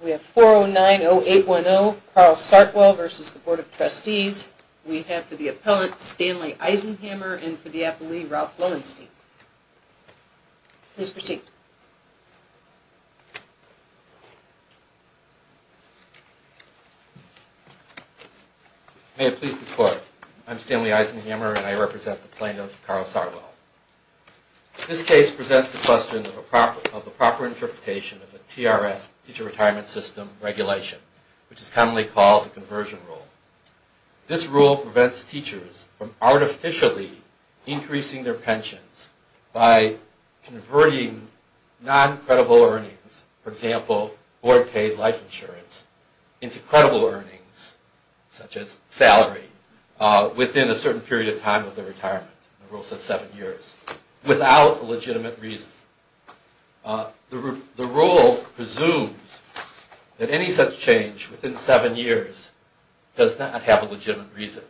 We have 4090810, Carl Sartwell v. The Board of Trustees. We have for the appellant, Stanley Eisenhammer, and for the appellee, Ralph Lowenstein. Please proceed. May it please the Court. I am Stanley Eisenhammer, and I represent the plaintiff, Carl Sartwell. This case presents the question of the proper interpretation of the TRS, Teacher Retirement System, regulation, which is commonly called the conversion rule. This rule prevents teachers from artificially increasing their pensions by converting non-credible earnings, for example, board-paid life insurance, into credible earnings, such as salary, within a certain period of time of their retirement. The rule says seven years, without a legitimate reason. The rule presumes that any such change within seven years does not have a legitimate reason.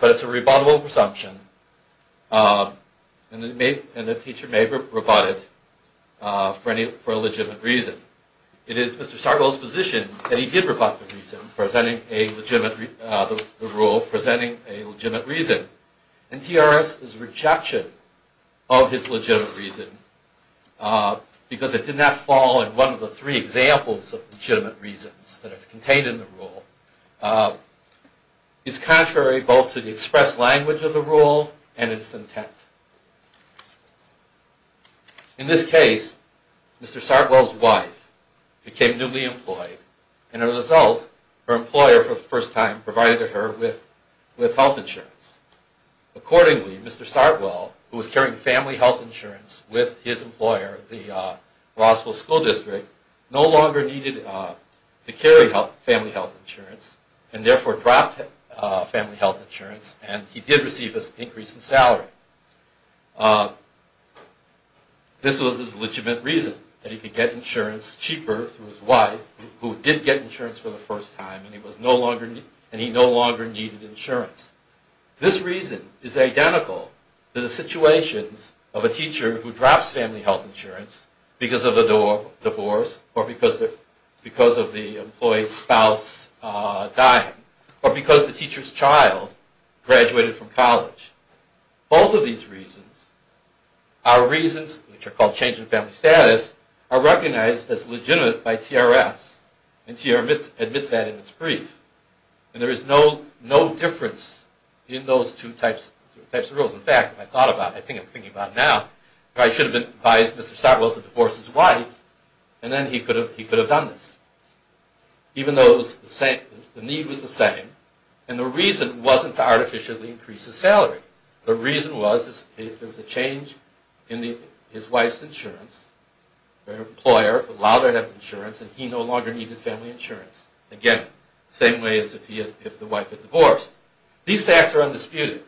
But it's a rebuttable presumption, and the teacher may rebut it for a legitimate reason. It is Mr. Sartwell's position that he did rebut the rule presenting a legitimate reason, and TRS's rejection of his legitimate reason, because it did not fall in one of the three examples of legitimate reasons that are contained in the rule, is contrary both to the expressed language of the rule and its intent. In this case, Mr. Sartwell's wife became newly employed, and as a result, her employer for the first time provided her with health insurance. This was his legitimate reason, that he could get insurance cheaper through his wife, who did get insurance for the first time, and he no longer needed insurance. This reason is identical to the situations of a teacher who drops family health insurance because of a divorce, or because of the employee's spouse dying, or because the teacher's child graduated from college. Both of these reasons, which are called change in family status, are recognized as legitimate by TRS, and TRS admits that in its brief. And there is no difference in those two types of rules. In fact, if I thought about it, I think I'm thinking about it now, I should have advised Mr. Sartwell to divorce his wife, and then he could have done this. Even though the need was the same, and the reason wasn't to artificially increase his salary. The reason was if there was a change in his wife's insurance, her employer allowed her to have insurance, and he no longer needed family insurance. Again, same way as if the wife had divorced. These facts are undisputed.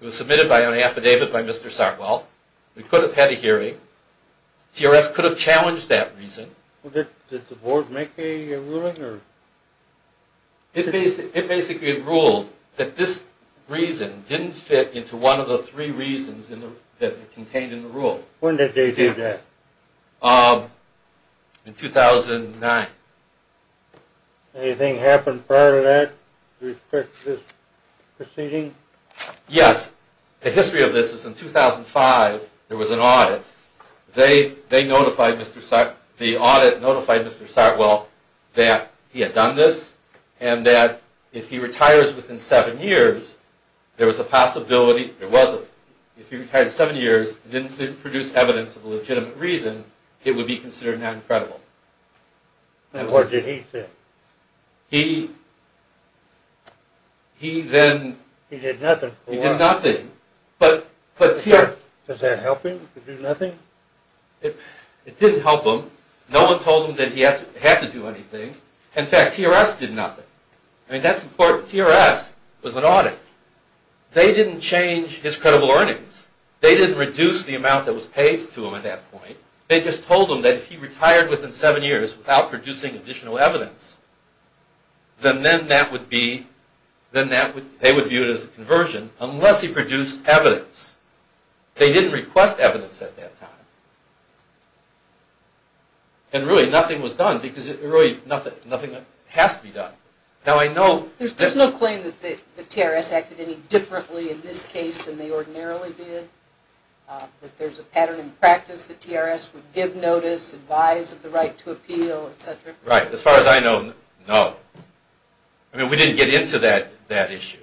It was submitted by an affidavit by Mr. Sartwell. We could have had a hearing. TRS could have challenged that reason. Did the board make a ruling? It basically ruled that this reason didn't fit into one of the three reasons contained in the rule. When did they do that? In 2009. Anything happen prior to that with respect to this proceeding? Yes. The history of this is in 2005, there was an audit. The audit notified Mr. Sartwell that he had done this, and that if he retires within seven years, there was a possibility... There wasn't. If he retired in seven years, and didn't produce evidence of a legitimate reason, it would be considered non-credible. And what did he say? He... He then... He did nothing. He did nothing. Does that help him? He did nothing? It didn't help him. No one told him that he had to do anything. In fact, TRS did nothing. I mean, that's important. TRS was an audit. They didn't change his credible earnings. They didn't reduce the amount that was paid to him at that point. They just told him that if he retired within seven years without producing additional evidence, then that would be... They would view it as a conversion, unless he produced evidence. They didn't request evidence at that time. And really, nothing was done, because really, nothing has to be done. Now, I know... There's no claim that TRS acted any differently in this case than they ordinarily did? That there's a pattern in practice that TRS would give notice, advise of the right to appeal, etc.? Right. As far as I know, no. I mean, we didn't get into that issue.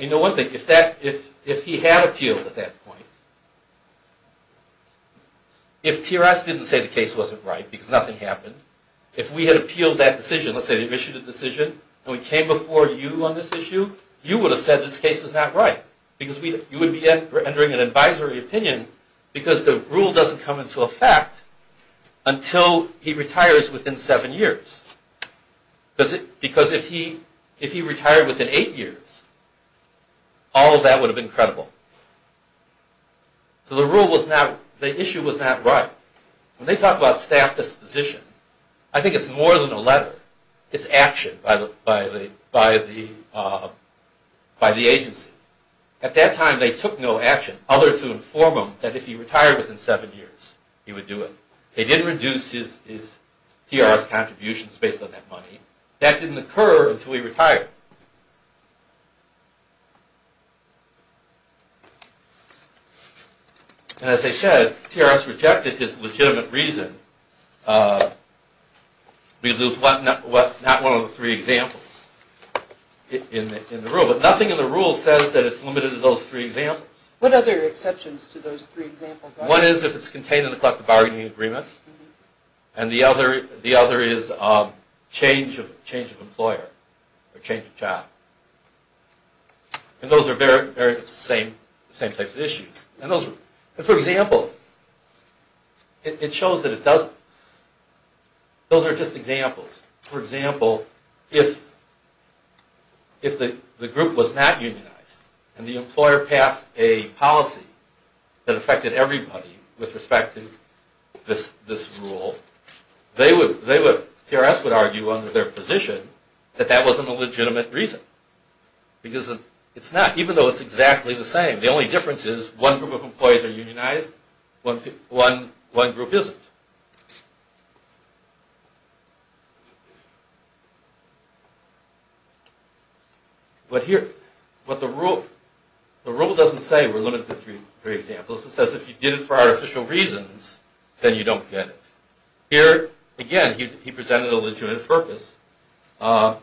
You know one thing. If he had appealed at that point, if TRS didn't say the case wasn't right because nothing happened, if we had appealed that decision, let's say they issued a decision, and we came before you on this issue, you would have said this case was not right, because you would be rendering an advisory opinion because the rule doesn't come into effect until he retires within seven years. Because if he retired within eight years, all of that would have been credible. So the rule was not... The issue was not right. When they talk about staff disposition, I think it's more than a letter. It's action by the agency. At that time, they took no action other to inform him that if he retired within seven years, he would do it. They did reduce his TRS contributions based on that money. That didn't occur until he retired. And as I said, TRS rejected his legitimate reason because it was not one of the three examples in the rule. But nothing in the rule says that it's limited to those three examples. What other exceptions to those three examples are there? One is if it's contained in the collective bargaining agreement, and the other is change of employer or change of job. And those are the same types of issues. For example, it shows that it doesn't... Those are just examples. For example, if the group was not unionized, and the employer passed a policy that affected everybody with respect to this rule, TRS would argue under their position that that wasn't a legitimate reason. Because it's not, even though it's exactly the same. The only difference is one group of employees are unionized, one group isn't. But here, the rule doesn't say we're limited to three examples. It says if you did it for artificial reasons, then you don't get it. Here, again, he presented a legitimate purpose.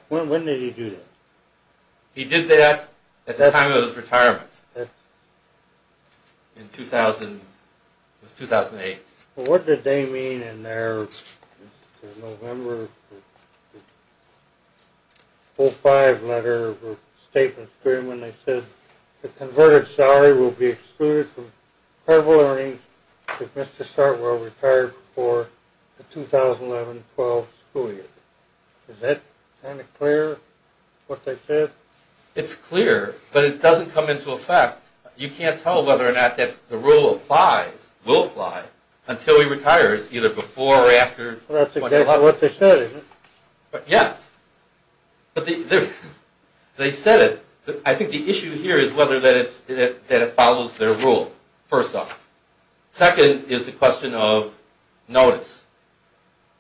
When did he do that? He did that at the time of his retirement, in 2008. Well, what did they mean in their November 4-5 letter of statements when they said the converted salary will be excluded from credible earnings if Mr. Sartwell retired before the 2011-12 school year? Is that kind of clear, what they said? It's clear, but it doesn't come into effect. You can't tell whether or not the rule applies, will apply, until he retires, either before or after 2011. That's exactly what they said, isn't it? Yes. They said it. I think the issue here is whether it follows their rule, first off. Second is the question of notice.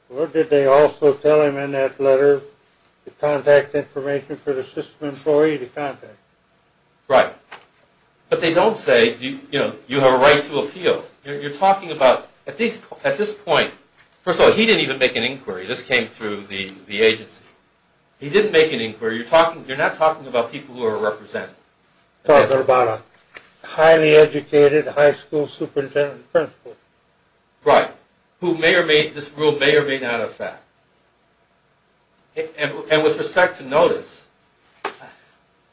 What did they also tell him in that letter, the contact information for the system employee to contact? Right. But they don't say, you know, you have a right to appeal. You're talking about, at this point, first of all, he didn't even make an inquiry. This came through the agency. He didn't make an inquiry. You're not talking about people who are represented. You're talking about a highly educated high school superintendent principal. Right. Who may or may, this rule may or may not affect. And with respect to notice,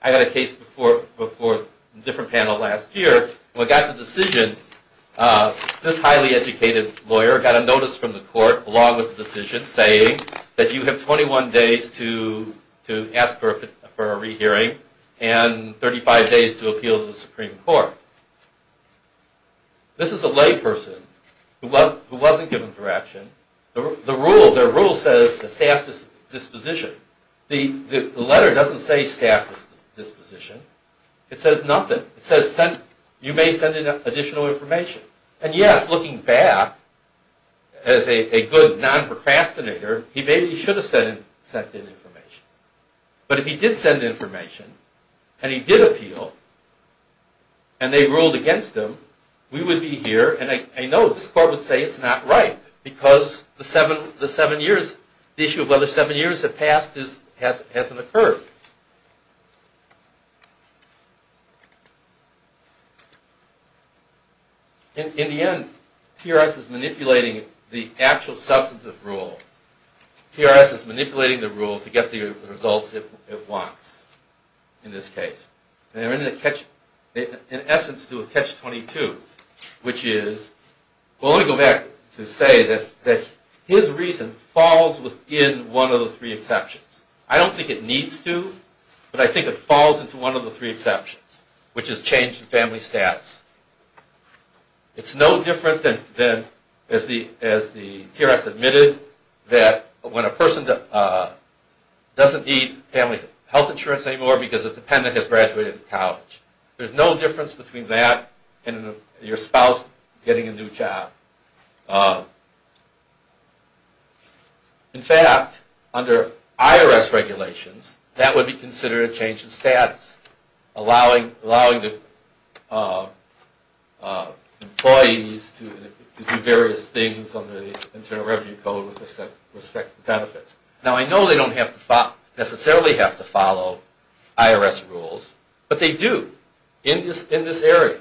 I had a case before a different panel last year. When I got the decision, this highly educated lawyer got a notice from the court, along with the decision, saying that you have 21 days to ask for a rehearing and 35 days to appeal to the Supreme Court. This is a layperson who wasn't given direction. Their rule says staff disposition. The letter doesn't say staff disposition. It says nothing. It says you may send in additional information. And, yes, looking back, as a good non-procrastinator, he maybe should have sent in information. But if he did send information, and he did appeal, and they ruled against him, we would be here. And I know this court would say it's not right, because the issue of whether seven years have passed hasn't occurred. In the end, TRS is manipulating the actual substantive rule. TRS is manipulating the rule to get the results it wants, in this case. In essence, to a catch-22, which is... Well, let me go back to say that his reason falls within one of the three exceptions. I don't think it needs to, but I think it falls into one of the three exceptions, which is change in family status. It's no different than, as the TRS admitted, that when a person doesn't need family health insurance anymore because a dependent has graduated college. There's no difference between that and your spouse getting a new job. In fact, under IRS regulations, that would be considered a change in status, allowing the employees to do various things under the Internal Revenue Code with respect to benefits. Now, I know they don't necessarily have to follow IRS rules, but they do in this area.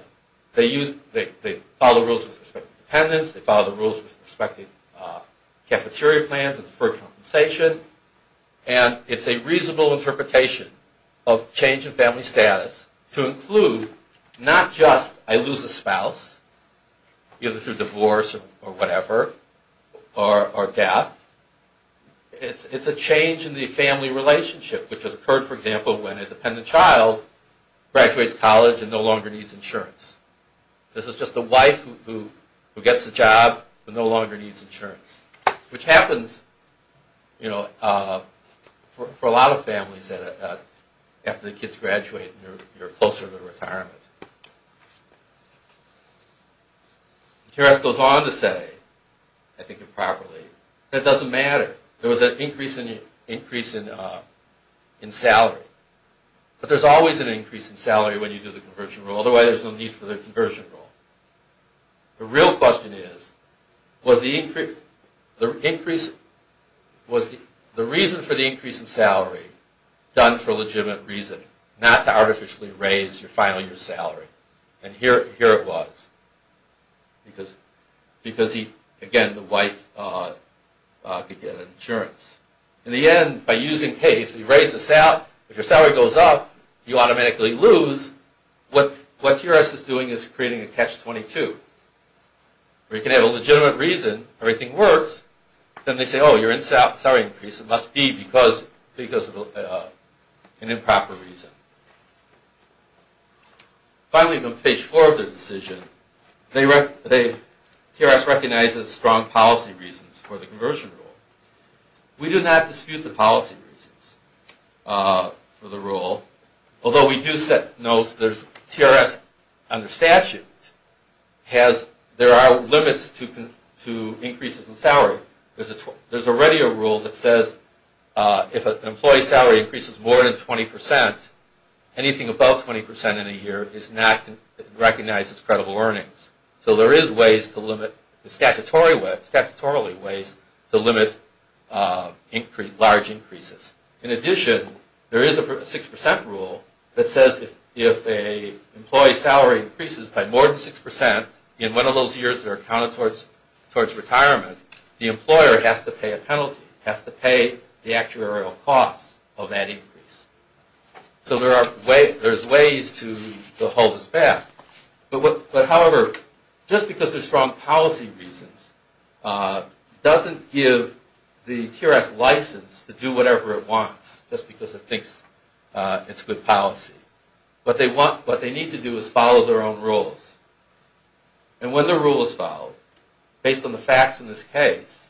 They follow rules with respect to dependents. They follow the rules with respect to cafeteria plans and deferred compensation. And it's a reasonable interpretation of change in family status to include not just, I lose a spouse, either through divorce or whatever, or death. It's a change in the family relationship, which has occurred, for example, when a dependent child graduates college and no longer needs insurance. This is just a wife who gets a job but no longer needs insurance, which happens for a lot of families after the kids graduate and you're closer to retirement. The IRS goes on to say, I think improperly, that it doesn't matter. There was an increase in salary. But there's always an increase in salary when you do the conversion rule. Otherwise, there's no need for the conversion rule. The real question is, was the reason for the increase in salary done for a legitimate reason, not to artificially raise your final year's salary? And here it was, because, again, the wife could get insurance. In the end, by using pay, if you raise the salary, if your salary goes up, you automatically lose. What the IRS is doing is creating a catch-22, where you can have a legitimate reason everything works. Then they say, oh, you're in salary increase. It must be because of an improper reason. Finally, on page 4 of the decision, the IRS recognizes strong policy reasons for the conversion rule. We do not dispute the policy reasons for the rule, although we do set notes. The IRS, under statute, there are limits to increases in salary. There's already a rule that says if an employee's salary increases more than 20%, anything above 20% in a year is not recognized as credible earnings. So there is ways to limit, statutorily, ways to limit large increases. In addition, there is a 6% rule that says if an employee's salary increases by more than 6% in one of those years that are counted towards retirement, the employer has to pay a penalty, has to pay the actuarial costs of that increase. So there are ways to hold this back. However, just because there's strong policy reasons doesn't give the IRS license to do whatever it wants, just because it thinks it's good policy. What they need to do is follow their own rules. And when the rule is followed, based on the facts in this case,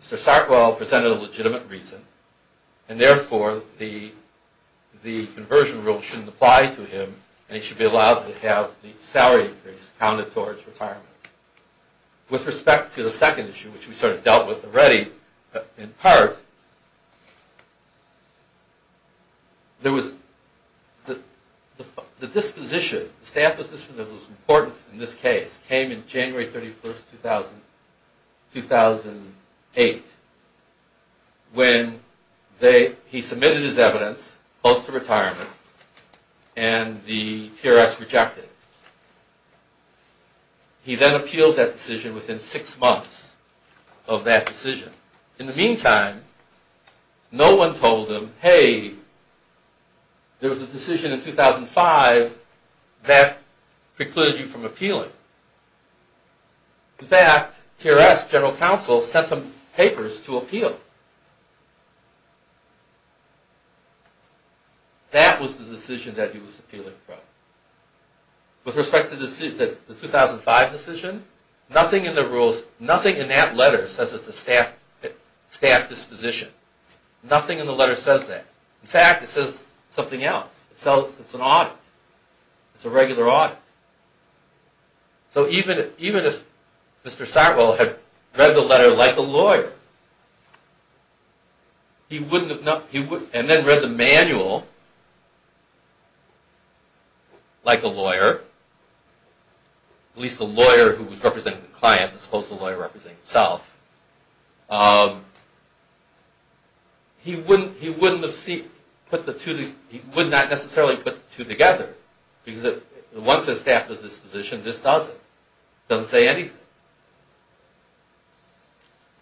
Mr. Sarkoil presented a legitimate reason, and therefore the conversion rule shouldn't apply to him, and he should be allowed to have the salary increase counted towards retirement. With respect to the second issue, which we sort of dealt with already, in part, there was the disposition, the staff disposition that was important in this case, came in January 31, 2008, when he submitted his evidence, post-retirement, and the TRS rejected. He then appealed that decision within six months of that decision. In the meantime, no one told him, hey, there was a decision in 2005 that precluded you from appealing. In fact, TRS, General Counsel, sent him papers to appeal. That was the decision that he was appealing from. With respect to the 2005 decision, nothing in the rules, in the letter, says it's a staff disposition. Nothing in the letter says that. In fact, it says something else. It's an audit. It's a regular audit. So even if Mr. Sarkoil had read the letter like a lawyer, and then read the manual like a lawyer, at least the lawyer who was representing the client, as opposed to the lawyer representing himself, he would not necessarily put the two together, because once a staff disposition, it just doesn't. It doesn't say anything.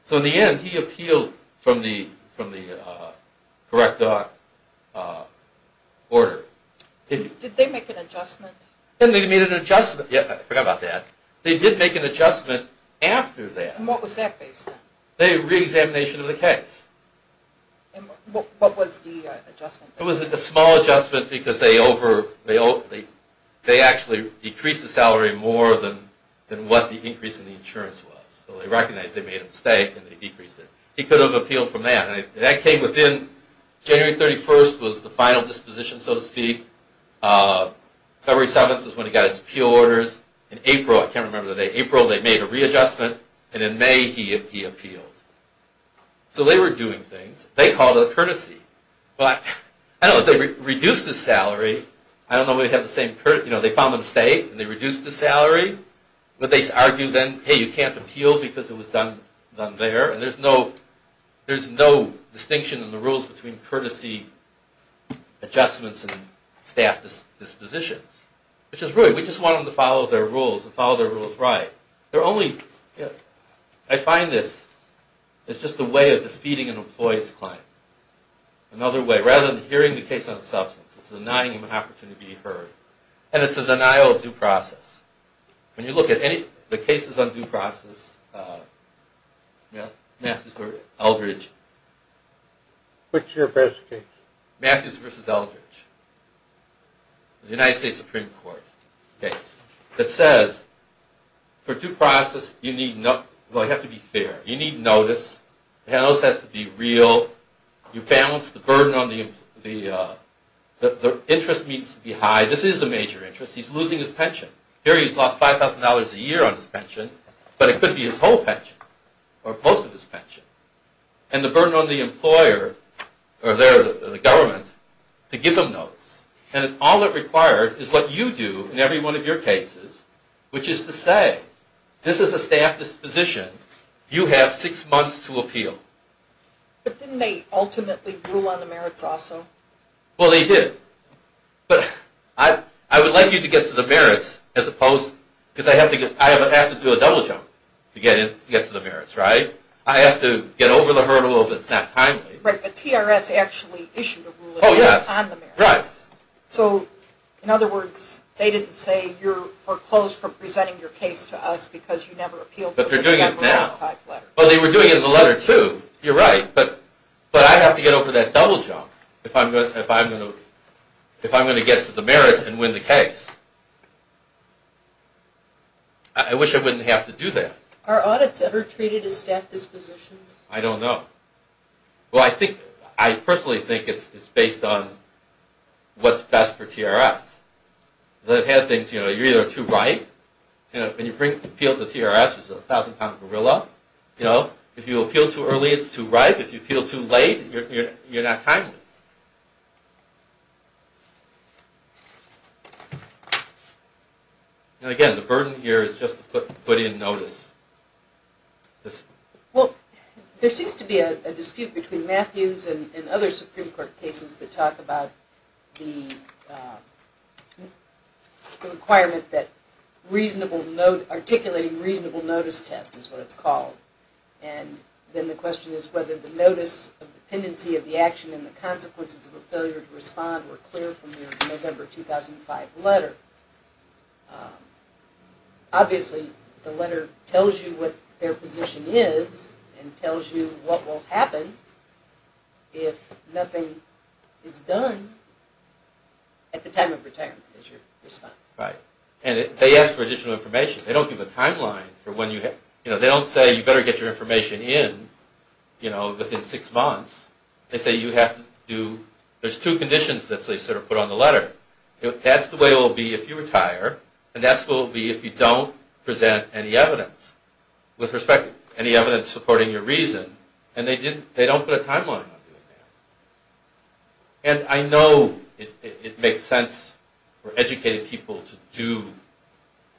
So in the end, he appealed from the correct order. Did they make an adjustment? They made an adjustment. Yeah, I forgot about that. They did make an adjustment after that. What was that based on? The reexamination of the case. What was the adjustment? It was a small adjustment because they actually decreased the salary more than what the increase in the insurance was. So they recognized they made a mistake and they decreased it. He could have appealed from that. That came within January 31st was the final disposition, so to speak. February 7th is when he got his appeal orders. In April, I can't remember the date, April they made a readjustment, and in May he appealed. So they were doing things. They called it a courtesy. But I don't know if they reduced the salary. I don't know if they have the same courtesy. They found the mistake and they reduced the salary. But they argued then, hey, you can't appeal because it was done there. And there's no distinction in the rules between courtesy adjustments and staff dispositions, which is rude. We just want them to follow their rules and follow their rules right. I find this is just a way of defeating an employee's claim. Another way, rather than hearing the case on substance, it's denying him an opportunity to be heard. And it's a denial of due process. When you look at any of the cases on due process, Matthews v. Eldridge. Which is your best case? Matthews v. Eldridge. The United States Supreme Court case. It says, for due process, you have to be fair. You need notice. The notice has to be real. You balance the burden on the interest needs to be high. This is a major interest. He's losing his pension. Here he's lost $5,000 a year on his pension. But it could be his whole pension or most of his pension. And the burden on the employer or the government to give him notice. And all it required is what you do in every one of your cases, which is to say, this is a staff disposition. You have six months to appeal. But didn't they ultimately rule on the merits also? Well, they did. But I would like you to get to the merits, because I have to do a double jump to get to the merits, right? I have to get over the hurdle if it's not timely. But TRS actually issued a ruling on the merits. So, in other words, they didn't say, you're foreclosed from presenting your case to us because you never appealed. But they're doing it now. Well, they were doing it in the letter, too. You're right. But I have to get over that double jump if I'm going to get to the merits and win the case. I wish I wouldn't have to do that. Are audits ever treated as staff dispositions? I don't know. Well, I personally think it's based on what's best for TRS. They have things, you know, you're either too ripe, and you appeal to TRS, who's a 1,000-pound gorilla. If you appeal too early, it's too ripe. If you appeal too late, you're not timely. And, again, the burden here is just to put in notice. Well, there seems to be a dispute between Matthews and other Supreme Court cases that talk about the requirement that articulating reasonable notice test is what it's called. And then the question is whether the notice of dependency of the action and the consequences of a failure to respond were clear from your November 2005 letter. Obviously, the letter tells you what their position is and tells you what will happen if nothing is done at the time of retirement is your response. Right. And they ask for additional information. They don't give a timeline for when you have... You know, they don't say you better get your information in, you know, within six months. They say you have to do... There's two conditions that they sort of put on the letter. That's the way it will be if you retire, and that's the way it will be if you don't present any evidence with respect to any evidence supporting your reason. And they don't put a timeline on doing that. And I know it makes sense for educated people to do,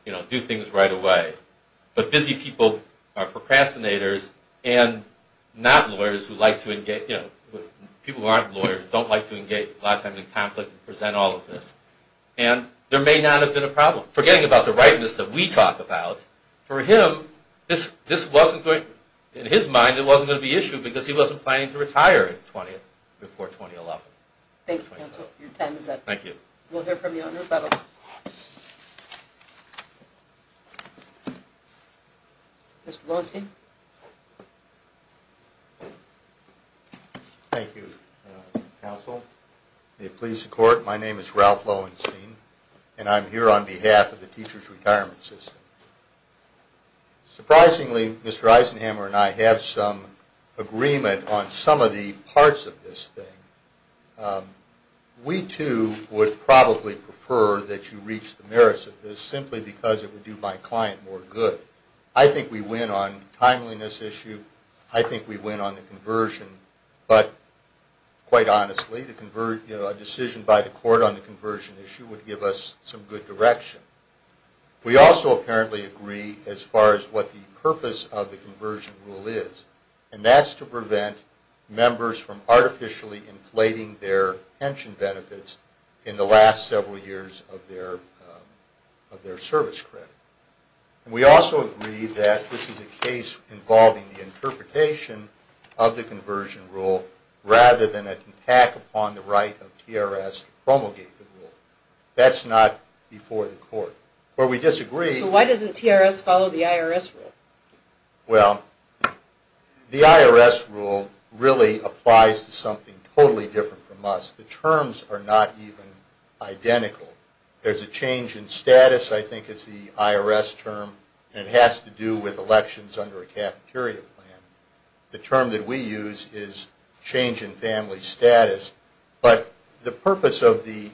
you know, do things right away. But busy people are procrastinators and not lawyers who like to engage... You know, people who aren't lawyers don't like to engage a lot of times in conflict and present all of this. And there may not have been a problem. Forgetting about the rightness that we talk about, for him, this wasn't going... In his mind, it wasn't going to be an issue because he wasn't planning to retire before 2011. Thank you, counsel. Your time is up. Thank you. We'll hear from the owner. Mr. Lowenstein. Thank you, counsel. May it please the court, my name is Ralph Lowenstein, and I'm here on behalf of the Teachers Retirement System. Surprisingly, Mr. Eisenhamer and I have some agreement on some of the parts of this thing. We, too, would probably prefer that you reach the merits of this simply because it would do my client more good. I think we win on the timeliness issue. I think we win on the conversion. But, quite honestly, a decision by the court on the conversion issue would give us some good direction. We also apparently agree as far as what the purpose of the conversion rule is, and that's to prevent members from artificially inflating their pension benefits in the last several years of their service credit. We also agree that this is a case involving the interpretation of the conversion rule rather than an attack upon the right of TRS to promulgate the rule. That's not before the court. But we disagree... So why doesn't TRS follow the IRS rule? Well, the IRS rule really applies to something totally different from us. The terms are not even identical. There's a change in status, I think is the IRS term, and it has to do with elections under a cafeteria plan. The term that we use is change in family status. But the purpose of the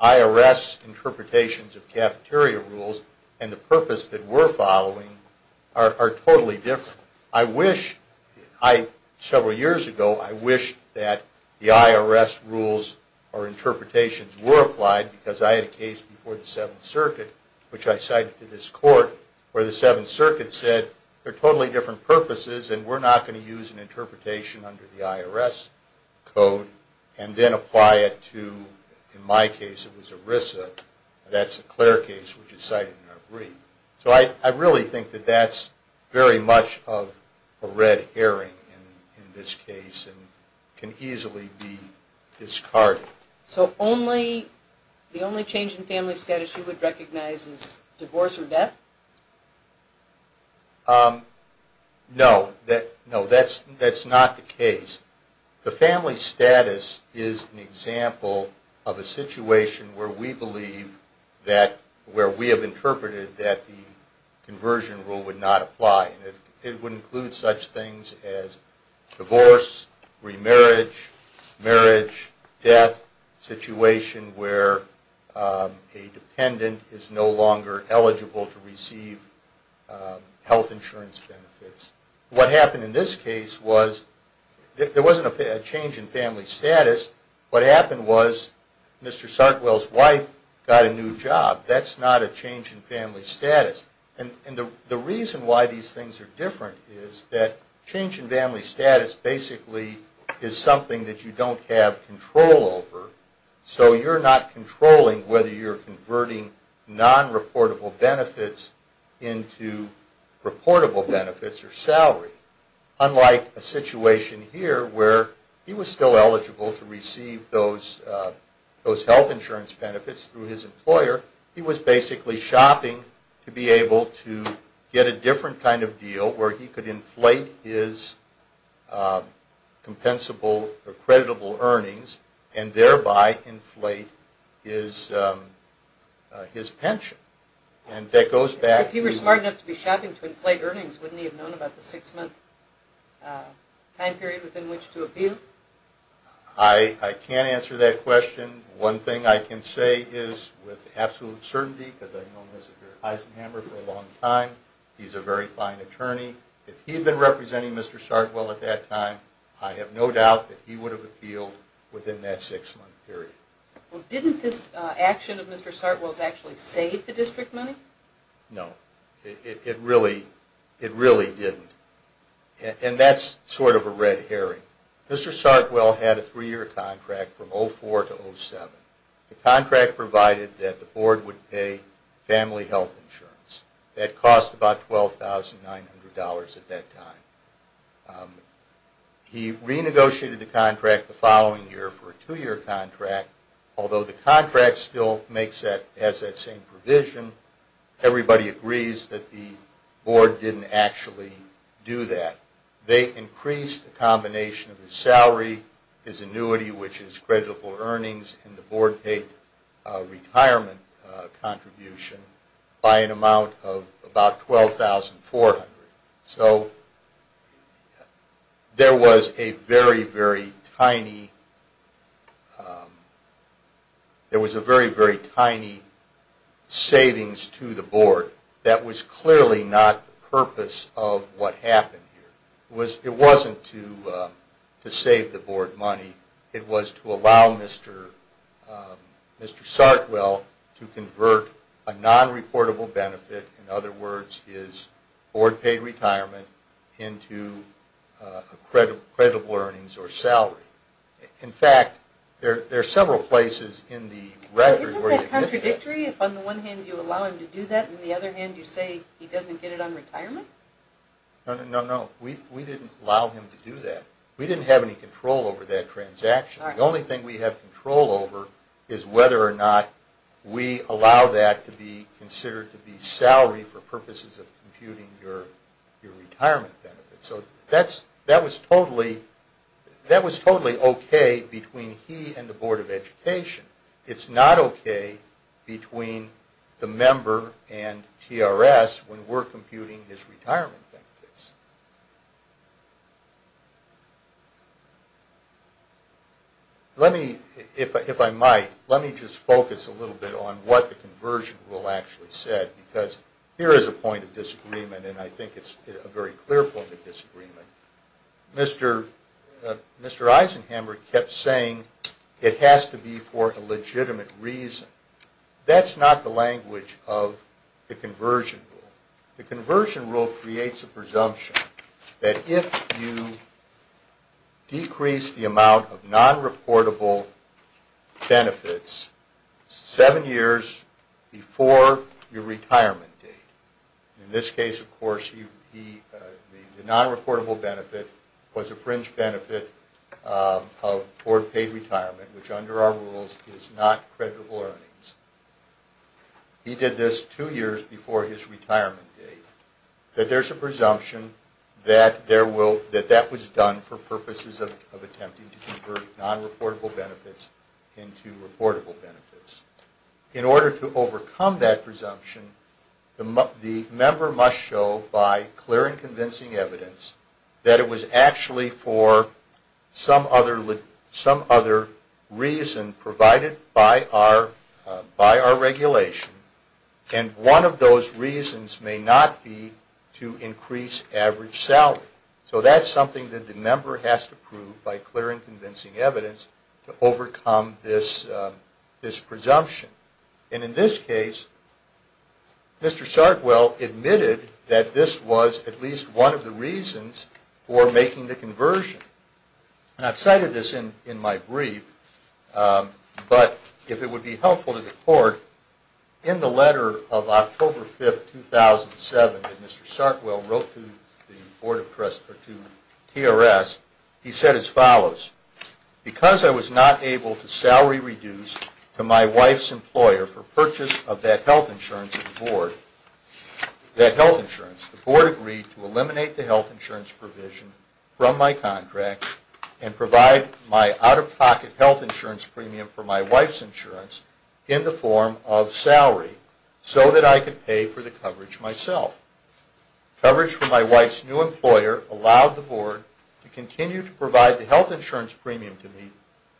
IRS interpretations of cafeteria rules and the purpose that we're following are totally different. Several years ago, I wished that the IRS rules or interpretations were applied because I had a case before the Seventh Circuit, which I cited to this court, where the Seventh Circuit said there are totally different purposes and we're not going to use an interpretation under the IRS code and then apply it to, in my case, it was ERISA. That's a clear case, which is cited in our brief. So I really think that that's very much of a red herring in this case and can easily be discarded. So the only change in family status you would recognize is divorce or death? No, that's not the case. The family status is an example of a situation where we believe that, where we have interpreted that the conversion rule would not apply. It would include such things as divorce, remarriage, marriage, death, situation where a dependent is no longer eligible to receive health insurance benefits. What happened in this case was there wasn't a change in family status. What happened was Mr. Sartwell's wife got a new job. That's not a change in family status. And the reason why these things are different is that change in family status basically is something that you don't have control over. So you're not controlling whether you're converting non-reportable benefits into reportable benefits or salary. Unlike a situation here where he was still eligible to receive those health insurance benefits through his employer, he was basically shopping to be able to get a different kind of deal where he could inflate his compensable or creditable earnings and thereby inflate his pension. If he were smart enough to be shopping to inflate earnings, wouldn't he have known about the six-month time period within which to appeal? I can't answer that question. One thing I can say is with absolute certainty, because I've known Mr. Eisenhammer for a long time, he's a very fine attorney. If he had been representing Mr. Sartwell at that time, I have no doubt that he would have appealed within that six-month period. Didn't this action of Mr. Sartwell's actually save the district money? No. It really didn't. And that's sort of a red herring. Mr. Sartwell had a three-year contract from 2004 to 2007. The contract provided that the board would pay family health insurance. That cost about $12,900 at that time. He renegotiated the contract the following year for a two-year contract. Although the contract still has that same provision, everybody agrees that the board didn't actually do that. They increased the combination of his salary, his annuity, which is creditable earnings, and the board-paid retirement contribution by an amount of about $12,400. So there was a very, very tiny savings to the board that was clearly not the purpose of what happened here. It wasn't to save the board money. It was to allow Mr. Sartwell to convert a non-reportable benefit, in other words, his board-paid retirement, into creditable earnings or salary. In fact, there are several places in the record where he admits that. Isn't that contradictory if on the one hand you allow him to do that and on the other hand you say he doesn't get it on retirement? No, no, no. We didn't allow him to do that. We didn't have any control over that transaction. The only thing we have control over is whether or not we allow that to be considered to be salary for purposes of computing your retirement benefit. So that was totally okay between he and the Board of Education. It's not okay between the member and TRS when we're computing his retirement benefits. Let me, if I might, let me just focus a little bit on what the Conversion Rule actually said because here is a point of disagreement and I think it's a very clear point of disagreement. Mr. Eisenhammer kept saying it has to be for a legitimate reason. That's not the language of the Conversion Rule. The Conversion Rule creates a presumption that if you decrease the amount of non-reportable benefits seven years before your retirement date, in this case of course the non-reportable benefit was a fringe benefit of board paid retirement which under our rules is not creditable earnings. He did this two years before his retirement date. He said that there's a presumption that that was done for purposes of attempting to convert non-reportable benefits into reportable benefits. In order to overcome that presumption, the member must show by clear and convincing evidence that it was actually for some other reason provided by our regulation. And one of those reasons may not be to increase average salary. So that's something that the member has to prove by clear and convincing evidence to overcome this presumption. And in this case, Mr. Sargwell admitted that this was at least one of the reasons for making the conversion. And I've cited this in my brief, but if it would be helpful to the court, in the letter of October 5, 2007 that Mr. Sargwell wrote to TRS, he said as follows. Because I was not able to salary reduce to my wife's employer for purchase of that health insurance, the board agreed to eliminate the health insurance provision from my contract and provide my out-of-pocket health insurance premium for my wife's insurance in the form of salary so that I could pay for the coverage myself. Coverage for my wife's new employer allowed the board to continue to provide the health insurance premium to me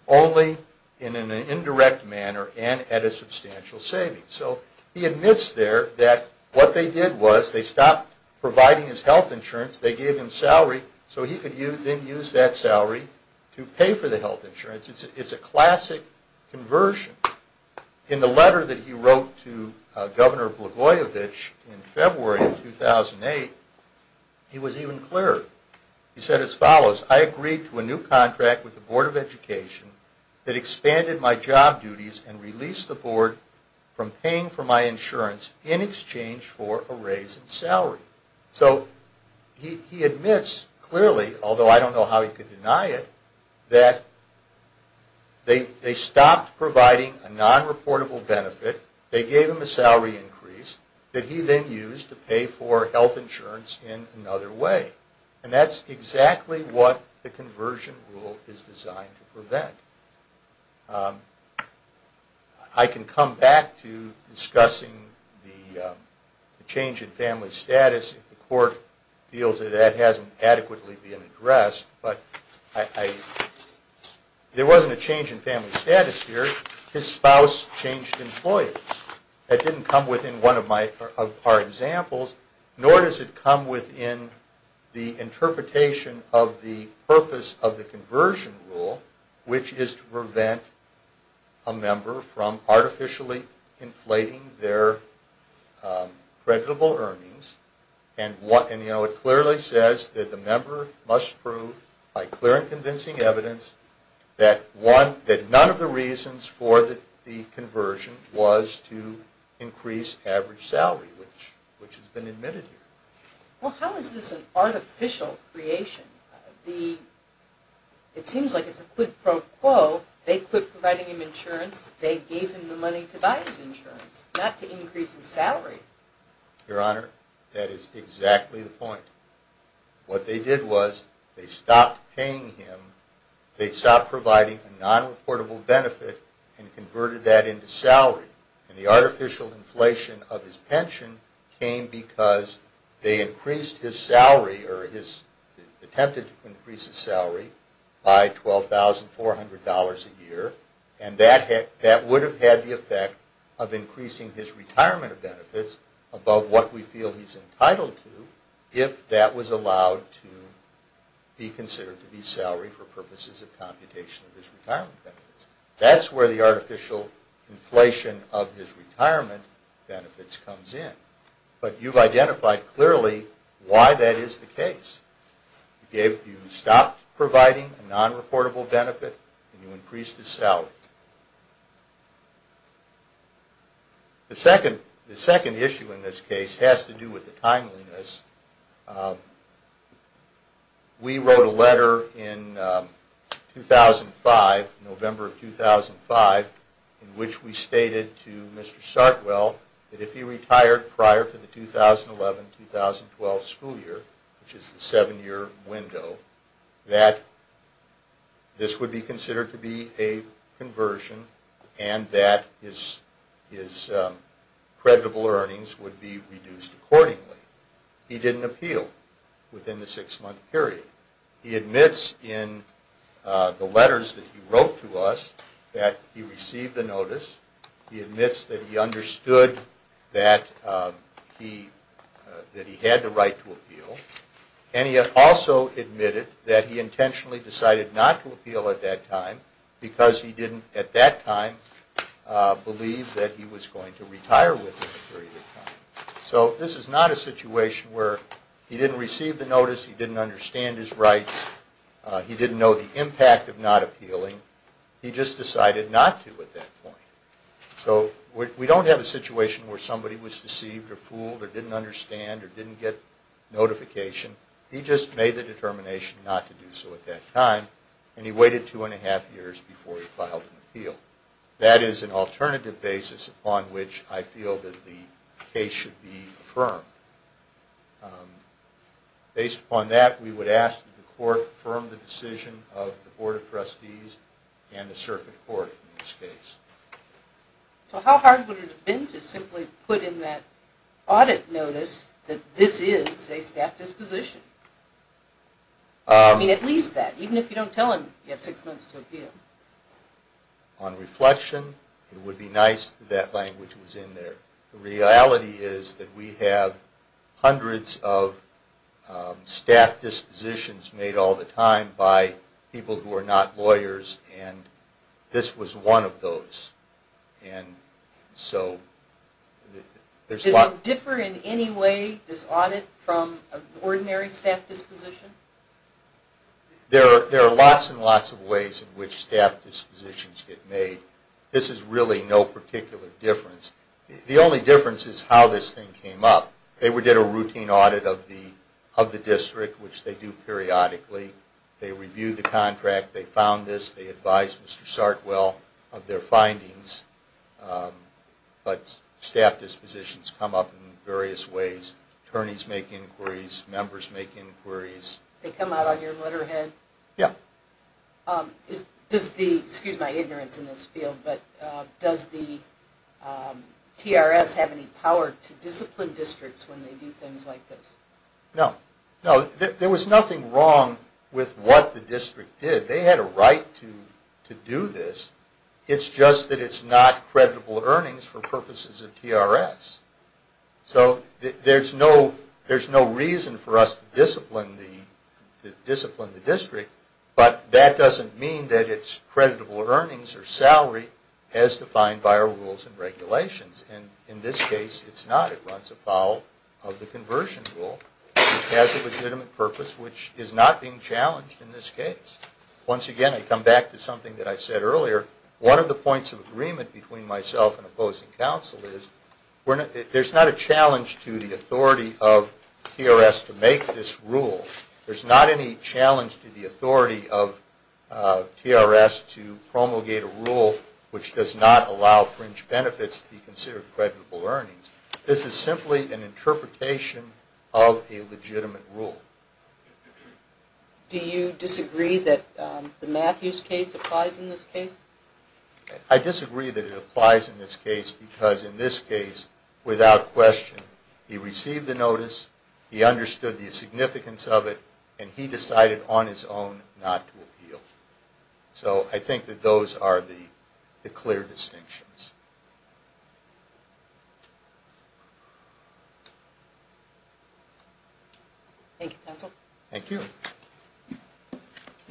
only in an indirect manner and at a substantial savings. So he admits there that what they did was they stopped providing his health insurance. They gave him salary so he could then use that salary to pay for the health insurance. It's a classic conversion. In the letter that he wrote to Governor Blagojevich in February of 2008, he was even clearer. He said as follows. I agreed to a new contract with the Board of Education that expanded my job duties and released the board from paying for my insurance in exchange for a raise in salary. So he admits clearly, although I don't know how he could deny it, that they stopped providing a non-reportable benefit. They gave him a salary increase that he then used to pay for health insurance in another way. And that's exactly what the conversion rule is designed to prevent. I can come back to discussing the change in family status if the court feels that that hasn't adequately been addressed. There wasn't a change in family status here. His spouse changed employers. That didn't come within one of our examples, nor does it come within the interpretation of the purpose of the conversion rule, which is to prevent a member from artificially inflating their creditable earnings. It clearly says that the member must prove by clear and convincing evidence that none of the reasons for the conversion was to increase average salary, which has been admitted here. Well, how is this an artificial creation? It seems like it's a quid pro quo. They quit providing him insurance. They gave him the money to buy his insurance, not to increase his salary. Your Honor, that is exactly the point. What they did was they stopped paying him. They stopped providing a non-reportable benefit and converted that into salary. And the artificial inflation of his pension came because they increased his salary or attempted to increase his salary by $12,400 a year. And that would have had the effect of increasing his retirement benefits above what we feel he's entitled to if that was allowed to be considered to be salary for purposes of computation of his retirement benefits. That's where the artificial inflation of his retirement benefits comes in. But you've identified clearly why that is the case. You stopped providing a non-reportable benefit and you increased his salary. The second issue in this case has to do with the timeliness. We wrote a letter in 2005, November of 2005, in which we stated to Mr. Sartwell that if he retired prior to the 2011-2012 school year, which is the seven-year window, that this would be considered to be a conversion and that his creditable earnings would be reduced accordingly. He didn't appeal within the six-month period. He admits in the letters that he wrote to us that he received the notice. He admits that he understood that he had the right to appeal. And he also admitted that he intentionally decided not to appeal at that time because he didn't at that time believe that he was going to retire within a period of time. So this is not a situation where he didn't receive the notice, he didn't understand his rights, he didn't know the impact of not appealing. He just decided not to at that point. So we don't have a situation where somebody was deceived or fooled or didn't understand or didn't get notification. He just made the determination not to do so at that time, and he waited two and a half years before he filed an appeal. That is an alternative basis upon which I feel that the case should be affirmed. Based upon that, we would ask that the Court affirm the decision of the Board of Trustees and the Circuit Court in this case. So how hard would it have been to simply put in that audit notice that this is a staff disposition? I mean, at least that, even if you don't tell him you have six months to appeal. On reflection, it would be nice if that language was in there. The reality is that we have hundreds of staff dispositions made all the time by people who are not lawyers, and this was one of those. Does it differ in any way, this audit, from an ordinary staff disposition? There are lots and lots of ways in which staff dispositions get made. This is really no particular difference. The only difference is how this thing came up. They did a routine audit of the district, which they do periodically. They reviewed the contract, they found this, they advised Mr. Sartwell of their findings. But staff dispositions come up in various ways. Attorneys make inquiries, members make inquiries. They come out on your letterhead? Yeah. Excuse my ignorance in this field, but does the TRS have any power to discipline districts when they do things like this? No. There was nothing wrong with what the district did. They had a right to do this. It's just that it's not creditable earnings for purposes of TRS. So there's no reason for us to discipline the district, but that doesn't mean that it's creditable earnings or salary as defined by our rules and regulations. And in this case, it's not. It runs afoul of the conversion rule. It has a legitimate purpose, which is not being challenged in this case. Once again, I come back to something that I said earlier. One of the points of agreement between myself and opposing counsel is there's not a challenge to the authority of TRS to make this rule. There's not any challenge to the authority of TRS to promulgate a rule which does not allow fringe benefits to be considered creditable earnings. This is simply an interpretation of a legitimate rule. Do you disagree that the Matthews case applies in this case? I disagree that it applies in this case because in this case, without question, he received the notice, he understood the significance of it, and he decided on his own not to appeal. So I think that those are the clear distinctions. Thank you, counsel. Thank you.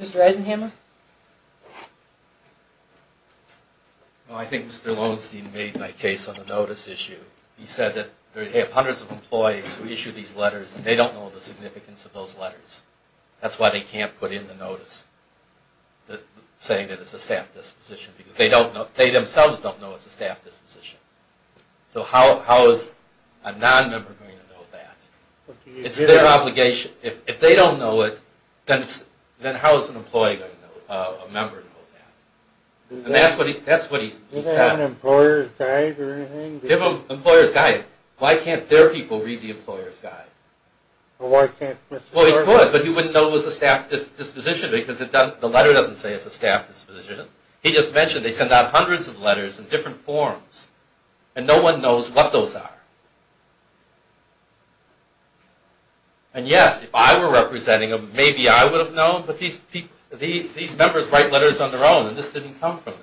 Mr. Eisenhammer. Well, I think Mr. Lowenstein made my case on the notice issue. He said that they have hundreds of employees who issue these letters, and they don't know the significance of those letters. That's why they can't put in the notice saying that it's a staff disposition because they themselves don't know the significance of those letters. So how is a non-member going to know that? It's their obligation. If they don't know it, then how is an employee going to know that? And that's what he said. Give them an employer's guide. Why can't their people read the employer's guide? Well, he could, but he wouldn't know it was a staff disposition because the letter doesn't say it's a staff disposition. He just mentioned they send out hundreds of letters in different forms, and no one knows what those are. And yes, if I were representing them, maybe I would have known, but these members write letters on their own, and this didn't come from them.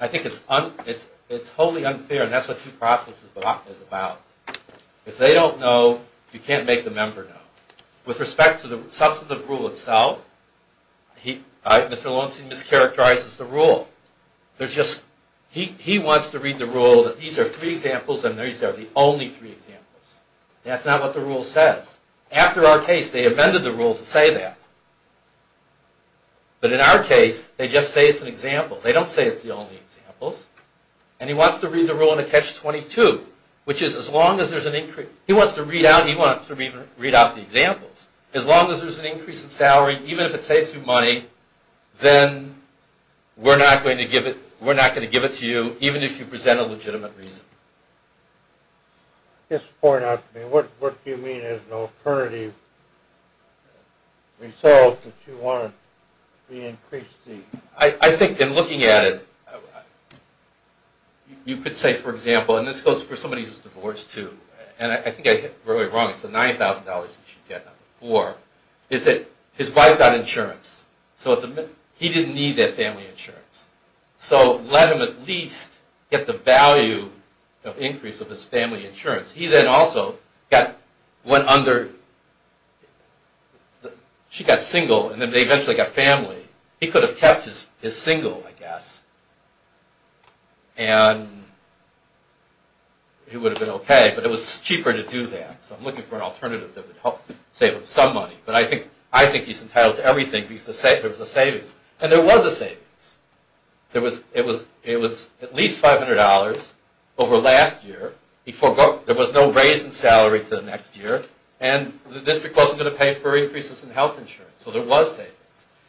I think it's wholly unfair, and that's what due process is about. If they don't know, you can't make the member know. With respect to the substantive rule itself, Mr. Lawson mischaracterizes the rule. He wants to read the rule that these are three examples, and these are the only three examples. That's not what the rule says. After our case, they amended the rule to say that. But in our case, they just say it's an example. They don't say it's the only examples. And he wants to read the rule in a catch-22. He wants to read out the examples. As long as there's an increase in salary, even if it saves you money, then we're not going to give it to you, even if you present a legitimate reason. I think in looking at it, you could say, for example, and this goes for somebody who's divorced too, and I think I hit it really wrong, it's the $90,000 he should get, not the $4,000, is that his wife got insurance. He didn't need that family insurance. So let him at least get the value of increase of his family insurance. He then also went under, she got single, and then they eventually got family. He could have kept his single, I guess. And he would have been okay, but it was cheaper to do that. So I'm looking for an alternative that would help save him some money. But I think he's entitled to everything because there was a savings. And there was a savings. It was at least $500 over last year. There was no raise in salary for the next year. And the district wasn't going to pay for increases in health insurance. So there was savings.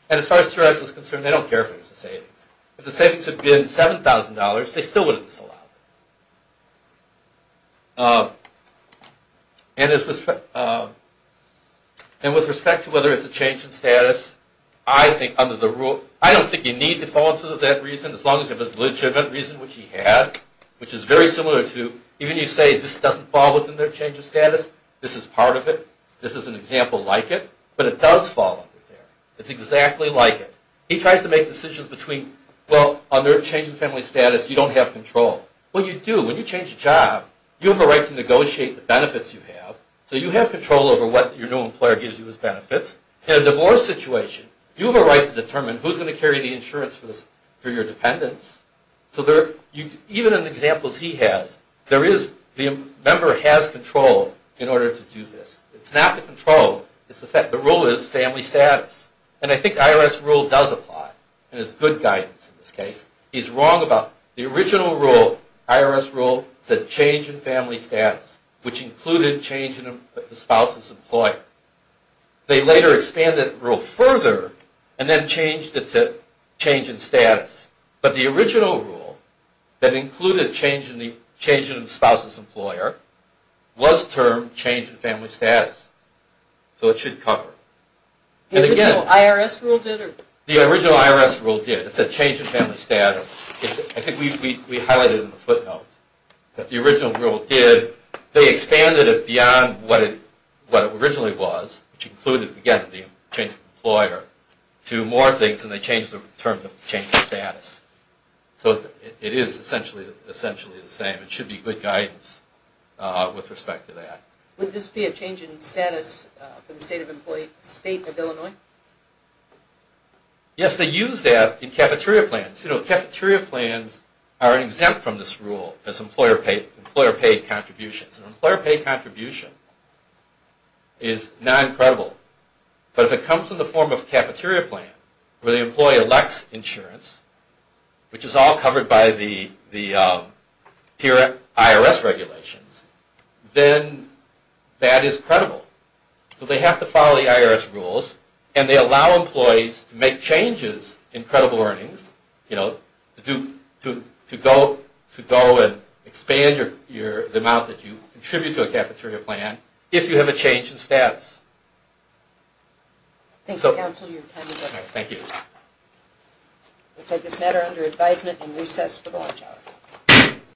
And as far as Tourette's was concerned, they don't care if there was a savings. If the savings had been $7,000, they still would have disallowed it. And with respect to whether it's a change in status, I don't think you need to fall into that reason, as long as you have a legitimate reason, which he had, which is very similar to, even if you say this doesn't fall within their change of status, this is part of it, this is an example like it, but it does fall under there. It's exactly like it. He tries to make decisions between, well, under a change in family status, you don't have control. Well, you do. When you change a job, you have a right to negotiate the benefits you have. So you have control over what your new employer gives you as benefits. In a divorce situation, you have a right to determine who's going to carry the insurance for your dependents. So even in the examples he has, the member has control in order to do this. It's not the control, it's the fact. The rule is family status. And I think the IRS rule does apply, and it's good guidance in this case. He's wrong about the original rule, the IRS rule said change in family status, which included change in the spouse's employer. They later expanded the rule further, and then changed it to change in status. But the original rule that included change in the spouse's employer was termed change in family status. So it should cover. The original IRS rule did. The original IRS rule did. It said change in family status. I think we highlighted in the footnotes that the original rule did. They expanded it beyond what it originally was, which included, again, the change in the employer, to more things, and they changed the term to change in status. So it is essentially the same. It should be good guidance with respect to that. Would this be a change in status for the state of Illinois? Yes, they used that in cafeteria plans. Cafeteria plans are exempt from this rule as employer-paid contributions. An employer-paid contribution is non-credible, but if it comes in the form of a cafeteria plan where the employee elects insurance, which is all covered by the tier IRS regulations, then that is credible. So they have to follow the IRS rules, and they allow employees to make changes in credible earnings to go and expand the amount that you contribute to a cafeteria plan if you have a change in status. Thank you, counsel. We will take this matter under advisement and recess for the lunch hour.